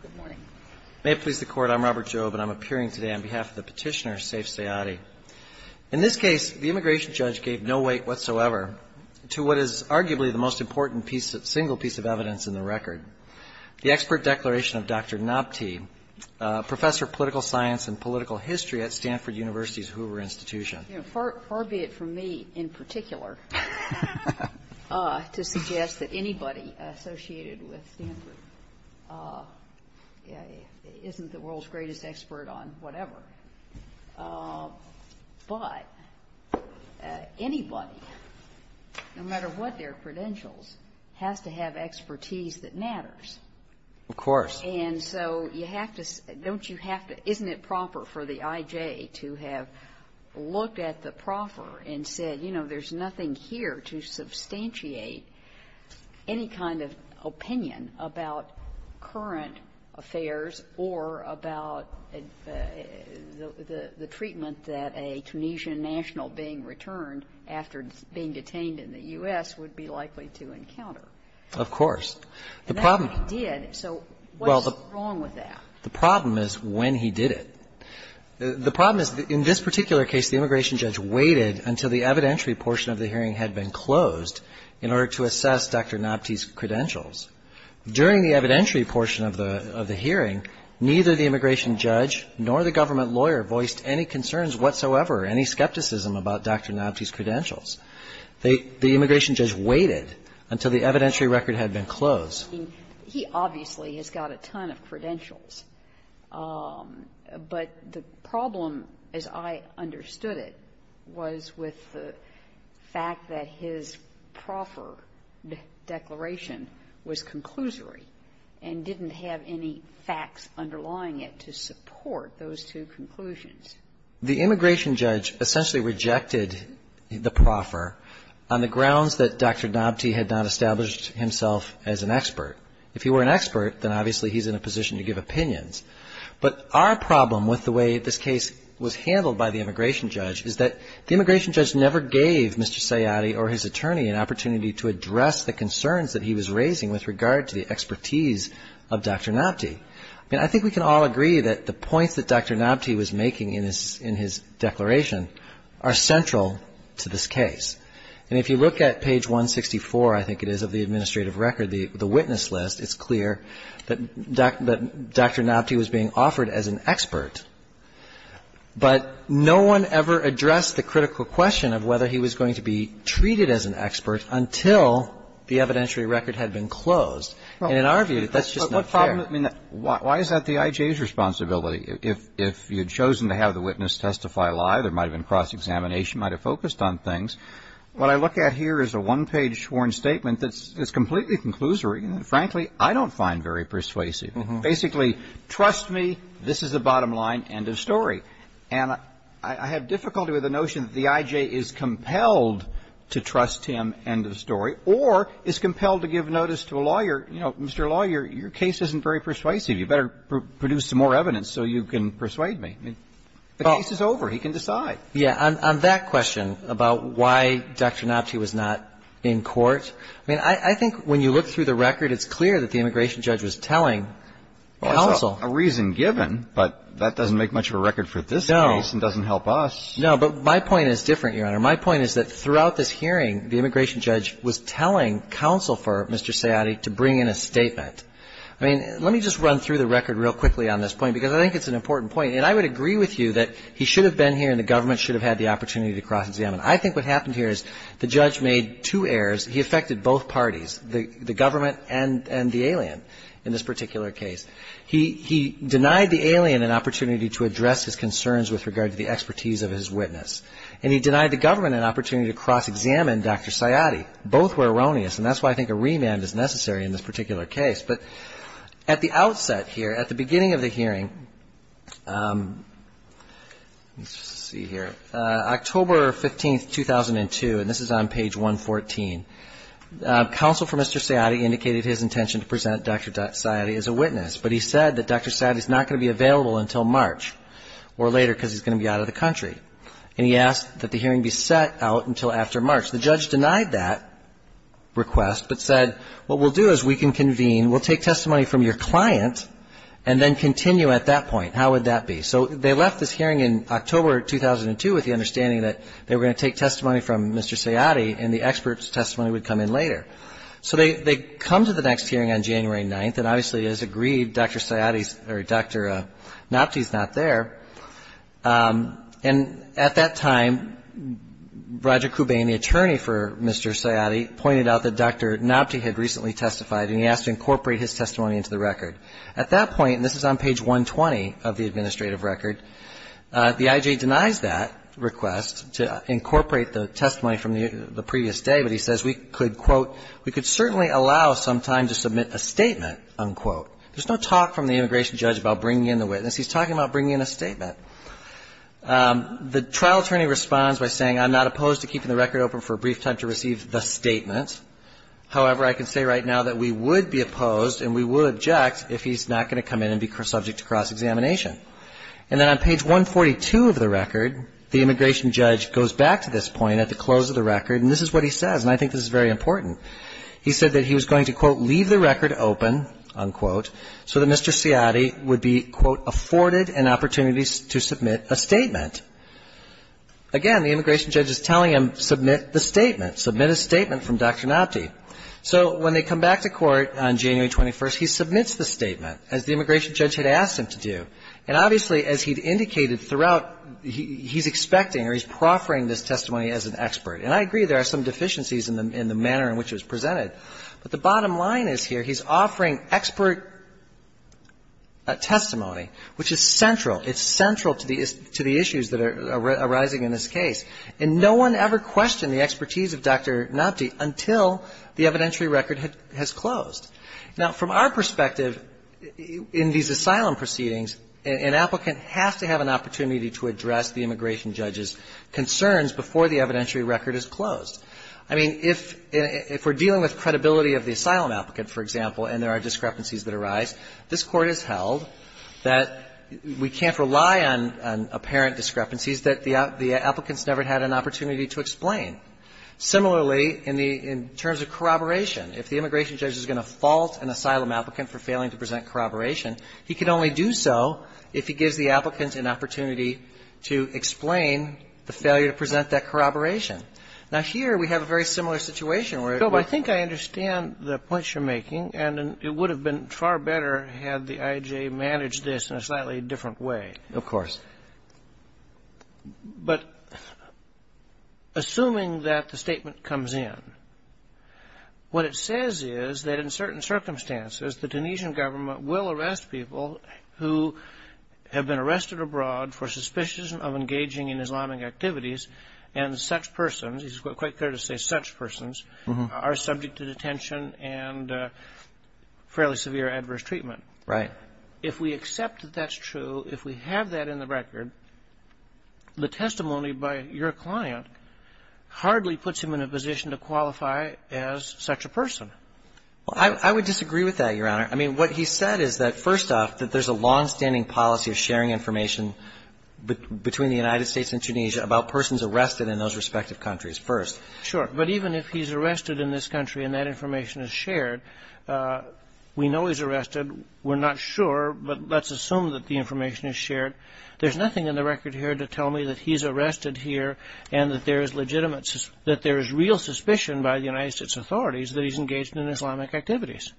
Good morning. May it please the Court, I'm Robert Jobe, and I'm appearing today on behalf of the petitioner, Saif Sayadi. In this case, the immigration judge gave no weight whatsoever to what is arguably the most important piece, single piece of evidence in the record, the expert declaration of Dr. Nabti, professor of political science and political history at Stanford University's Hoover Institution. You know, far be it from me, in particular, to suggest that anybody associated with Stanford isn't the world's greatest expert on whatever, but anybody, no matter what their credentials, has to have expertise that matters. Of course. And so you have to, don't you have to, isn't it proper for the I.J. to have looked at the proffer and said, you know, there's nothing here to substantiate any kind of opinion about current affairs or about the treatment that a Tunisian national being returned after being detained in the U.S. would be likely to encounter? Of course. And that he did. So what's wrong with that? The problem is when he did it. The problem is, in this particular case, the immigration judge waited until the evidentiary portion of the hearing had been closed in order to assess Dr. Nabti's credentials. During the evidentiary portion of the hearing, neither the immigration judge nor the government lawyer voiced any concerns whatsoever, any skepticism about Dr. Nabti's credentials. The immigration judge waited until the evidentiary record had been closed. He obviously has got a ton of credentials. But the problem, as I understood it, was with the fact that his proffer declaration was conclusory and didn't have any facts underlying it to support those two conclusions. The immigration judge essentially rejected the proffer on the grounds that Dr. Nabti had not established himself as an expert. If he were an expert, then obviously he's in a position to give opinions. But our problem with the way this case was handled by the immigration judge is that the immigration judge never gave Mr. Sayadi or his attorney an opportunity to address the concerns that he was raising with regard to the expertise of Dr. Nabti. I mean, I think we can all agree that the points that Dr. Nabti was making in his declaration are central to this case. And if you look at page 164, I think it is, of the administrative record, the witness list, it's clear that Dr. Nabti was being offered as an expert, but no one ever addressed the critical question of whether he was going to be treated as an expert until the evidentiary record had been closed. And in our view, that's just not fair. I mean, why is that the I.J.'s responsibility? If you had chosen to have the witness testify live, there might have been cross-examination, might have focused on things. What I look at here is a one-page sworn statement that's completely conclusory and, frankly, I don't find very persuasive. Basically, trust me, this is the bottom line, end of story. And I have difficulty with the notion that the I.J. is compelled to trust him, end of story, or is compelled to give notice to a lawyer. You know, Mr. Lawyer, your case isn't very persuasive. You better produce some more evidence so you can persuade me. I mean, the case is over. He can decide. Yeah. On that question about why Dr. Nabti was not in court, I mean, I think when you look through the record, it's clear that the immigration judge was telling counsel. Well, it's a reason given, but that doesn't make much of a record for this case and doesn't help us. No, but my point is different, Your Honor. My point is that throughout this hearing, the immigration judge was telling counsel for Mr. Sayati to bring in a statement. I mean, let me just run through the record real quickly on this point because I think it's an important point. And I would agree with you that he should have been here and the government should have had the opportunity to cross-examine. I think what happened here is the judge made two errors. He affected both parties, the government and the alien in this particular case. He denied the alien an opportunity to address his concerns with regard to the expertise of his witness. And he denied the government an opportunity to cross-examine Dr. Sayati. Both were erroneous, and that's why I think a remand is necessary in this particular case. But at the outset here, at the beginning of the hearing, let's see here, October 15, 2002, and this is on page 114, counsel for Mr. Sayati indicated his intention to present Dr. Sayati as a witness, but he said that Dr. Sayati is not going to be available until March or later because he's going to be out of the country. And he asked that the hearing be set out until after March. The judge denied that request, but said what we'll do is we can convene. We'll take testimony from your client and then continue at that point. How would that be? So they left this hearing in October 2002 with the understanding that they were going to take testimony from Mr. Sayati and the expert's testimony would come in later. So they come to the next hearing on January 9th, and obviously, as agreed, Dr. Sayati's or Dr. Napti's not there. And at that time, Roger Kubain, the attorney for Mr. Sayati, pointed out that Dr. Napti had recently testified and he asked to incorporate his testimony into the record. At that point, and this is on page 120 of the administrative record, the I.G. denies that request to incorporate the testimony from the previous day, but he says we could, quote, we could certainly allow some time to submit a statement, unquote. There's no talk from the immigration judge about bringing in the witness. He's talking about bringing in a statement. The trial attorney responds by saying I'm not opposed to keeping the record open for a brief time to receive the statement. However, I can say right now that we would be opposed and we would object if he's not going to come in and be subject to cross-examination. And then on page 142 of the record, the immigration judge goes back to this point at the close of the record, and this is what he says, and I think this is very important. He said that he was going to, quote, leave the record open, unquote, so that Mr. Sayati would be, quote, afforded an opportunity to submit a statement. Again, the immigration judge is telling him, submit the statement. Submit a statement from Dr. Napti. So when they come back to court on January 21st, he submits the statement, as the immigration judge had asked him to do. And obviously, as he'd indicated throughout, he's expecting or he's proffering this testimony as an expert. And I agree there are some deficiencies in the manner in which it was presented. But the bottom line is here, he's offering expert testimony, which is central. It's central to the issues that are arising in this case. And no one ever questioned the expertise of Dr. Napti until the evidentiary record has closed. Now, from our perspective, in these asylum proceedings, an applicant has to have an opportunity to address the immigration judge's concerns before the evidentiary record is closed. I mean, if we're dealing with credibility of the asylum applicant, for example, and there are discrepancies that arise, this Court has held that we can't rely on apparent discrepancies, that the applicants never had an opportunity to explain. Similarly, in the terms of corroboration, if the immigration judge is going to fault an asylum applicant for failing to present corroboration, he can only do so if he gives the applicants an opportunity to explain the failure to present that corroboration. Now, here we have a very similar situation where it works. Robert, I think I understand the points you're making. And it would have been far better had the IJA managed this in a slightly different way. Of course. But assuming that the statement comes in, what it says is that in certain circumstances, the Tunisian government will arrest people who have been arrested abroad for suspicious of engaging in Islamic activities, and such persons, it's quite fair to say such persons, are subject to detention and fairly severe adverse treatment. Right. If we accept that that's true, if we have that in the record, the testimony by your client hardly puts him in a position to qualify as such a person. Well, I would disagree with that, Your Honor. I mean, what he said is that, first off, that there's a longstanding policy of sharing information between the United States and Tunisia about persons arrested in those respective countries first. Sure. But even if he's arrested in this country and that information is shared, we know he's arrested. We're not sure, but let's assume that the information is shared. There's nothing in the record here to tell me that he's arrested here and that there is real suspicion by the United States authorities that he's engaged in Islamic activities.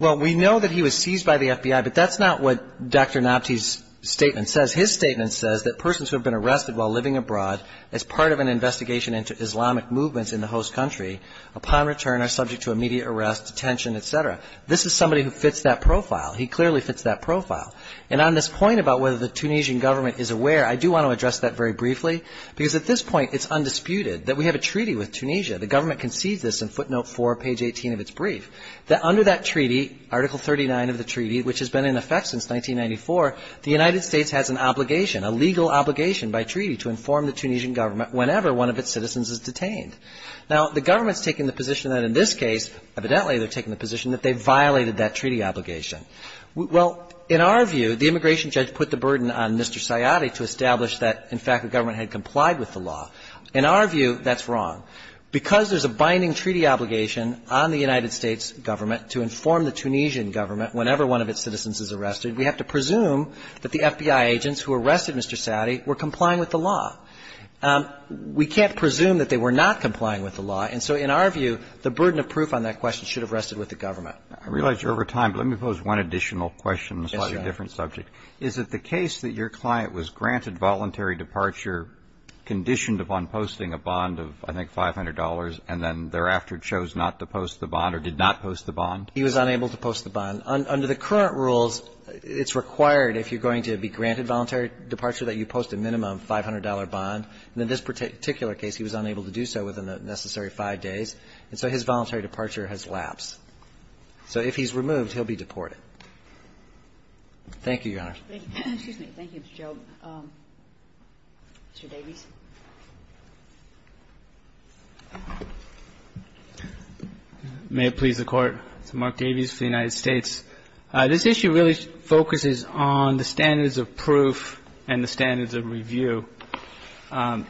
Well, we know that he was seized by the FBI, but that's not what Dr. Nabti's statement says. His statement says that persons who have been arrested while living abroad as part of an investigation into Islamic movements in the host country, upon return, are subject to immediate arrest, detention, et cetera. This is somebody who fits that profile. He clearly fits that profile. And on this point about whether the Tunisian government is aware, I do want to address that very briefly, because at this point it's undisputed that we have a treaty with Tunisia. The government conceived this in footnote 4, page 18 of its brief, that under that treaty, Article 39 of the treaty, which has been in effect since 1994, the United States has an obligation, a legal obligation by treaty to inform the Tunisian government whenever one of its citizens is detained. Now, the government's taking the position that in this case, evidently they're taking the position that they violated that treaty obligation. Well, in our view, the immigration judge put the burden on Mr. Sayadi to establish that, in fact, the government had complied with the law. In our view, that's wrong. Because there's a binding treaty obligation on the United States government to inform the Tunisian government whenever one of its citizens is arrested, we have to presume that the FBI agents who arrested Mr. Sayadi were complying with the law. We can't presume that they were not complying with the law. And so in our view, the burden of proof on that question should have rested with the government. I realize you're over time, but let me pose one additional question on a slightly different subject. Yes, Your Honor. Is it the case that your client was granted voluntary departure conditioned upon posting a bond of, I think, $500, and then thereafter chose not to post the bond or did not post the bond? He was unable to post the bond. Under the current rules, it's required, if you're going to be granted voluntary departure, that you post a minimum $500 bond. And in this particular case, he was unable to do so within the necessary five days. And so his voluntary departure has lapsed. So if he's removed, he'll be deported. Thank you, Your Honor. Excuse me. Thank you, Mr. Job. Mr. Davies. May it please the Court. Mark Davies for the United States. This issue really focuses on the standards of proof and the standards of review. Mr.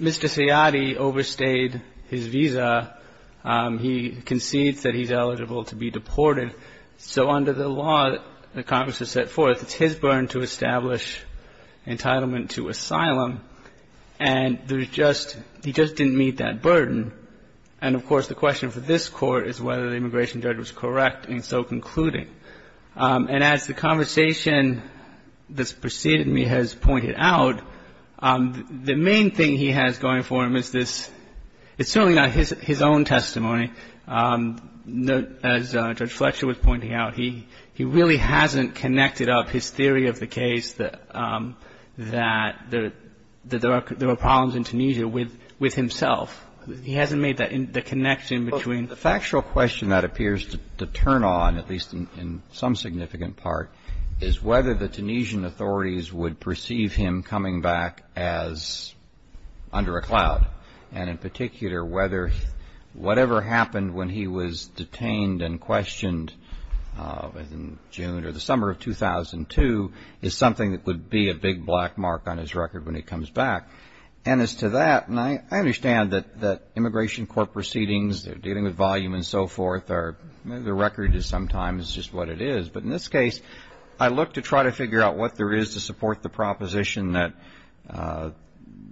Sayadi overstayed his visa. He concedes that he's eligible to be deported. So under the law that Congress has set forth, it's his burden to establish entitlement to asylum, and there's just — he just didn't meet that burden. And, of course, the question for this Court is whether the immigration judge was correct in so concluding. And as the conversation that's preceded me has pointed out, the main thing he has going for him is this — it's certainly not his own testimony. As Judge Fletcher was pointing out, he really hasn't connected up his theory of the case that there are problems in Tunisia with himself. He hasn't made the connection between — Well, the factual question that appears to turn on, at least in some significant part, is whether the Tunisian authorities would perceive him coming back as under a cloud. And in particular, whether whatever happened when he was detained and questioned in June or the summer of 2002 is something that would be a big black mark on his record when he comes back. And as to that, I understand that immigration court proceedings, they're dealing with volume and so forth, or maybe the record is sometimes just what it is. But in this case, I look to try to figure out what there is to support the proposition that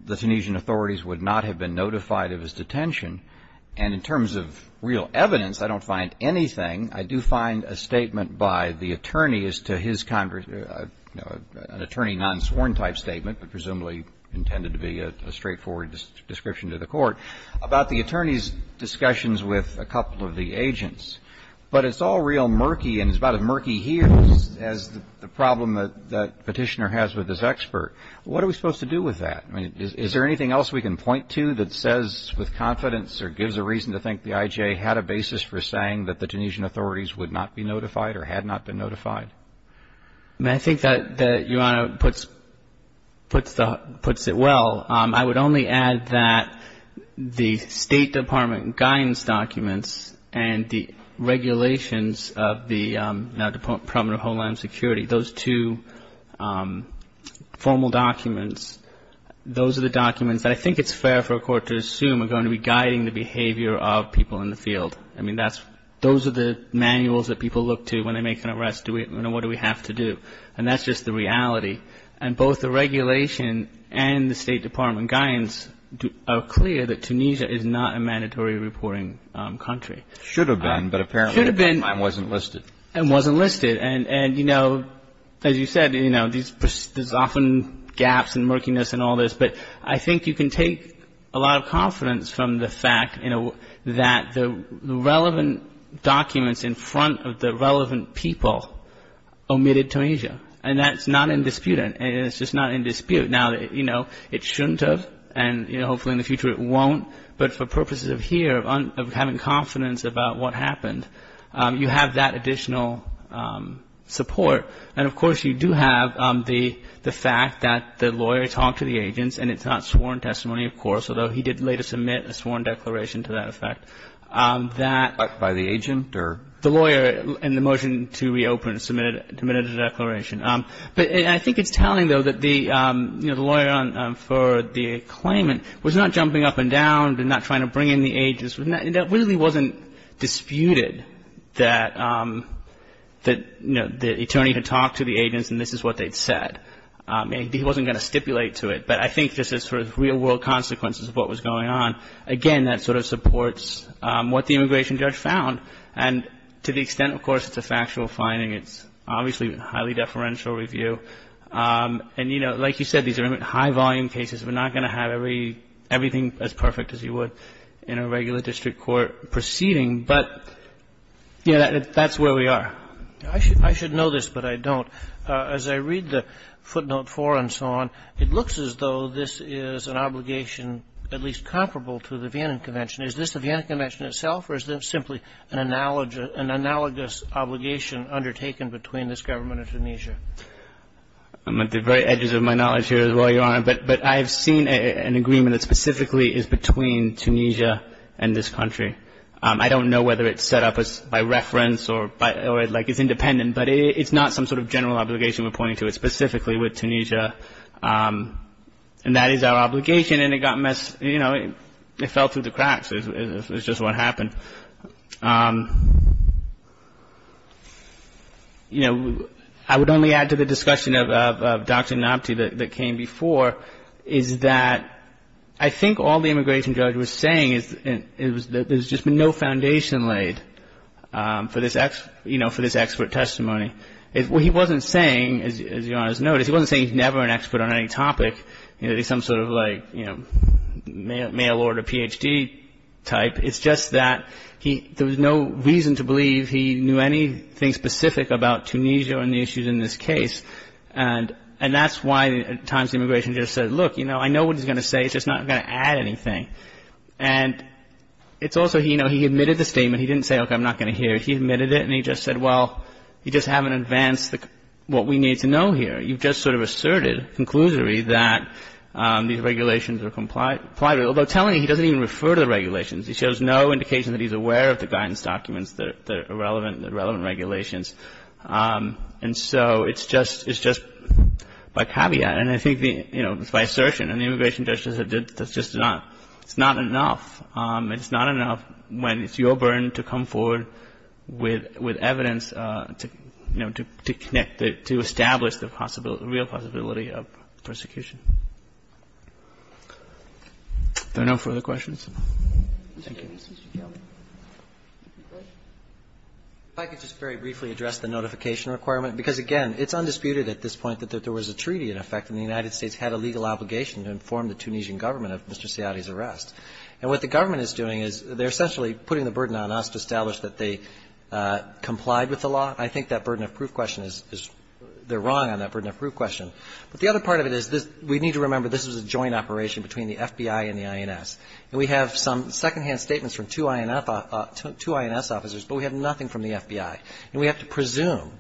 the Tunisian authorities would not have been notified of his detention. And in terms of real evidence, I don't find anything. I do find a statement by the attorney as to his — an attorney non-sworn type statement, but presumably intended to be a straightforward description to the Court, about the attorney's discussions with a couple of the agents. But it's all real murky, and it's about as murky here as the problem that Petitioner has with this expert. What are we supposed to do with that? I mean, is there anything else we can point to that says with confidence or gives a reason to think the I.J. had a basis for saying that the Tunisian authorities would not be notified or had not been notified? I mean, I think that Your Honor puts it well. I would only add that the State Department guidance documents and the regulations of the Department of Homeland Security, those two formal documents, those are the documents that I think it's fair for a court to assume are going to be guiding the behavior of people in the field. I mean, those are the manuals that people look to when they make an arrest. What do we have to do? And that's just the reality. And both the regulation and the State Department guidance are clear that Tunisia is not a mandatory reporting country. It should have been, but apparently the timeline wasn't listed. It wasn't listed. And, you know, as you said, you know, there's often gaps and murkiness and all this. But I think you can take a lot of confidence from the fact, you know, that the relevant documents in front of the relevant people omitted Tunisia. And that's not indisputant. It's just not in dispute. Now, you know, it shouldn't have. And, you know, hopefully in the future it won't. But for purposes of here, of having confidence about what happened, you have that additional support. And, of course, you do have the fact that the lawyer talked to the agents, and it's not sworn testimony, of course, although he did later submit a sworn declaration to that effect, that the lawyer in the motion to reopen submitted a declaration. But I think it's telling, though, that the, you know, the lawyer for the claimant was not jumping up and down and not trying to bring in the agents. It really wasn't disputed that, you know, the attorney had talked to the agents and this is what they'd said. He wasn't going to stipulate to it. But I think this is sort of real-world consequences of what was going on. Again, that sort of supports what the immigration judge found. And to the extent, of course, it's a factual finding, it's obviously highly deferential review. And, you know, like you said, these are high-volume cases. We're not going to have everything as perfect as you would in a regular district court proceeding. But, you know, that's where we are. I should know this, but I don't. As I read the footnote 4 and so on, it looks as though this is an obligation at least comparable to the Vienna Convention. Is this the Vienna Convention itself or is it simply an analogous obligation undertaken between this government and Tunisia? At the very edges of my knowledge here, Your Honor, but I've seen an agreement that specifically is between Tunisia and this country. I don't know whether it's set up by reference or like it's independent, but it's not some sort of general obligation we're pointing to. It's specifically with Tunisia. And that is our obligation. It's just what happened. You know, I would only add to the discussion of Dr. Nabti that came before, is that I think all the immigration judge was saying is that there's just been no foundation laid for this expert testimony. What he wasn't saying, as Your Honor has noticed, he wasn't saying he's never an expert on any topic. You know, he's some sort of like, you know, mail order Ph.D. type. It's just that there was no reason to believe he knew anything specific about Tunisia or any issues in this case. And that's why at times the immigration judge said, look, you know, I know what he's going to say. It's just not going to add anything. And it's also, you know, he admitted the statement. He didn't say, okay, I'm not going to hear it. He admitted it and he just said, well, you just haven't advanced what we need to know here. You've just sort of asserted conclusively that these regulations are complied with, although telling you he doesn't even refer to the regulations. He shows no indication that he's aware of the guidance documents that are relevant, the relevant regulations. And so it's just, it's just by caveat. And I think the, you know, by assertion. And the immigration judge just said that's just not, it's not enough. It's not enough when it's your burden to come forward with evidence to, you know, to connect, to establish the possibility, the real possibility of persecution. Are there no further questions? Thank you. Roberts. If I could just very briefly address the notification requirement, because, again, it's undisputed at this point that there was a treaty in effect and the United States had a legal obligation to inform the Tunisian government of Mr. Seade's arrest. And what the government is doing is they're essentially putting the burden on us to establish that they complied with the law. I think that burden of proof question is, they're wrong on that burden of proof question. But the other part of it is we need to remember this was a joint operation between the FBI and the INS. And we have some secondhand statements from two INS officers, but we have nothing from the FBI. And we have to presume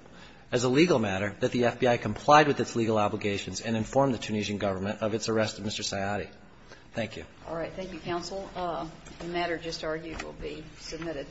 as a legal matter that the FBI complied with its legal obligations and informed the Tunisian government of its arrest of Mr. Seade. Thank you. All right. Thank you, counsel. The matter just argued will be submitted.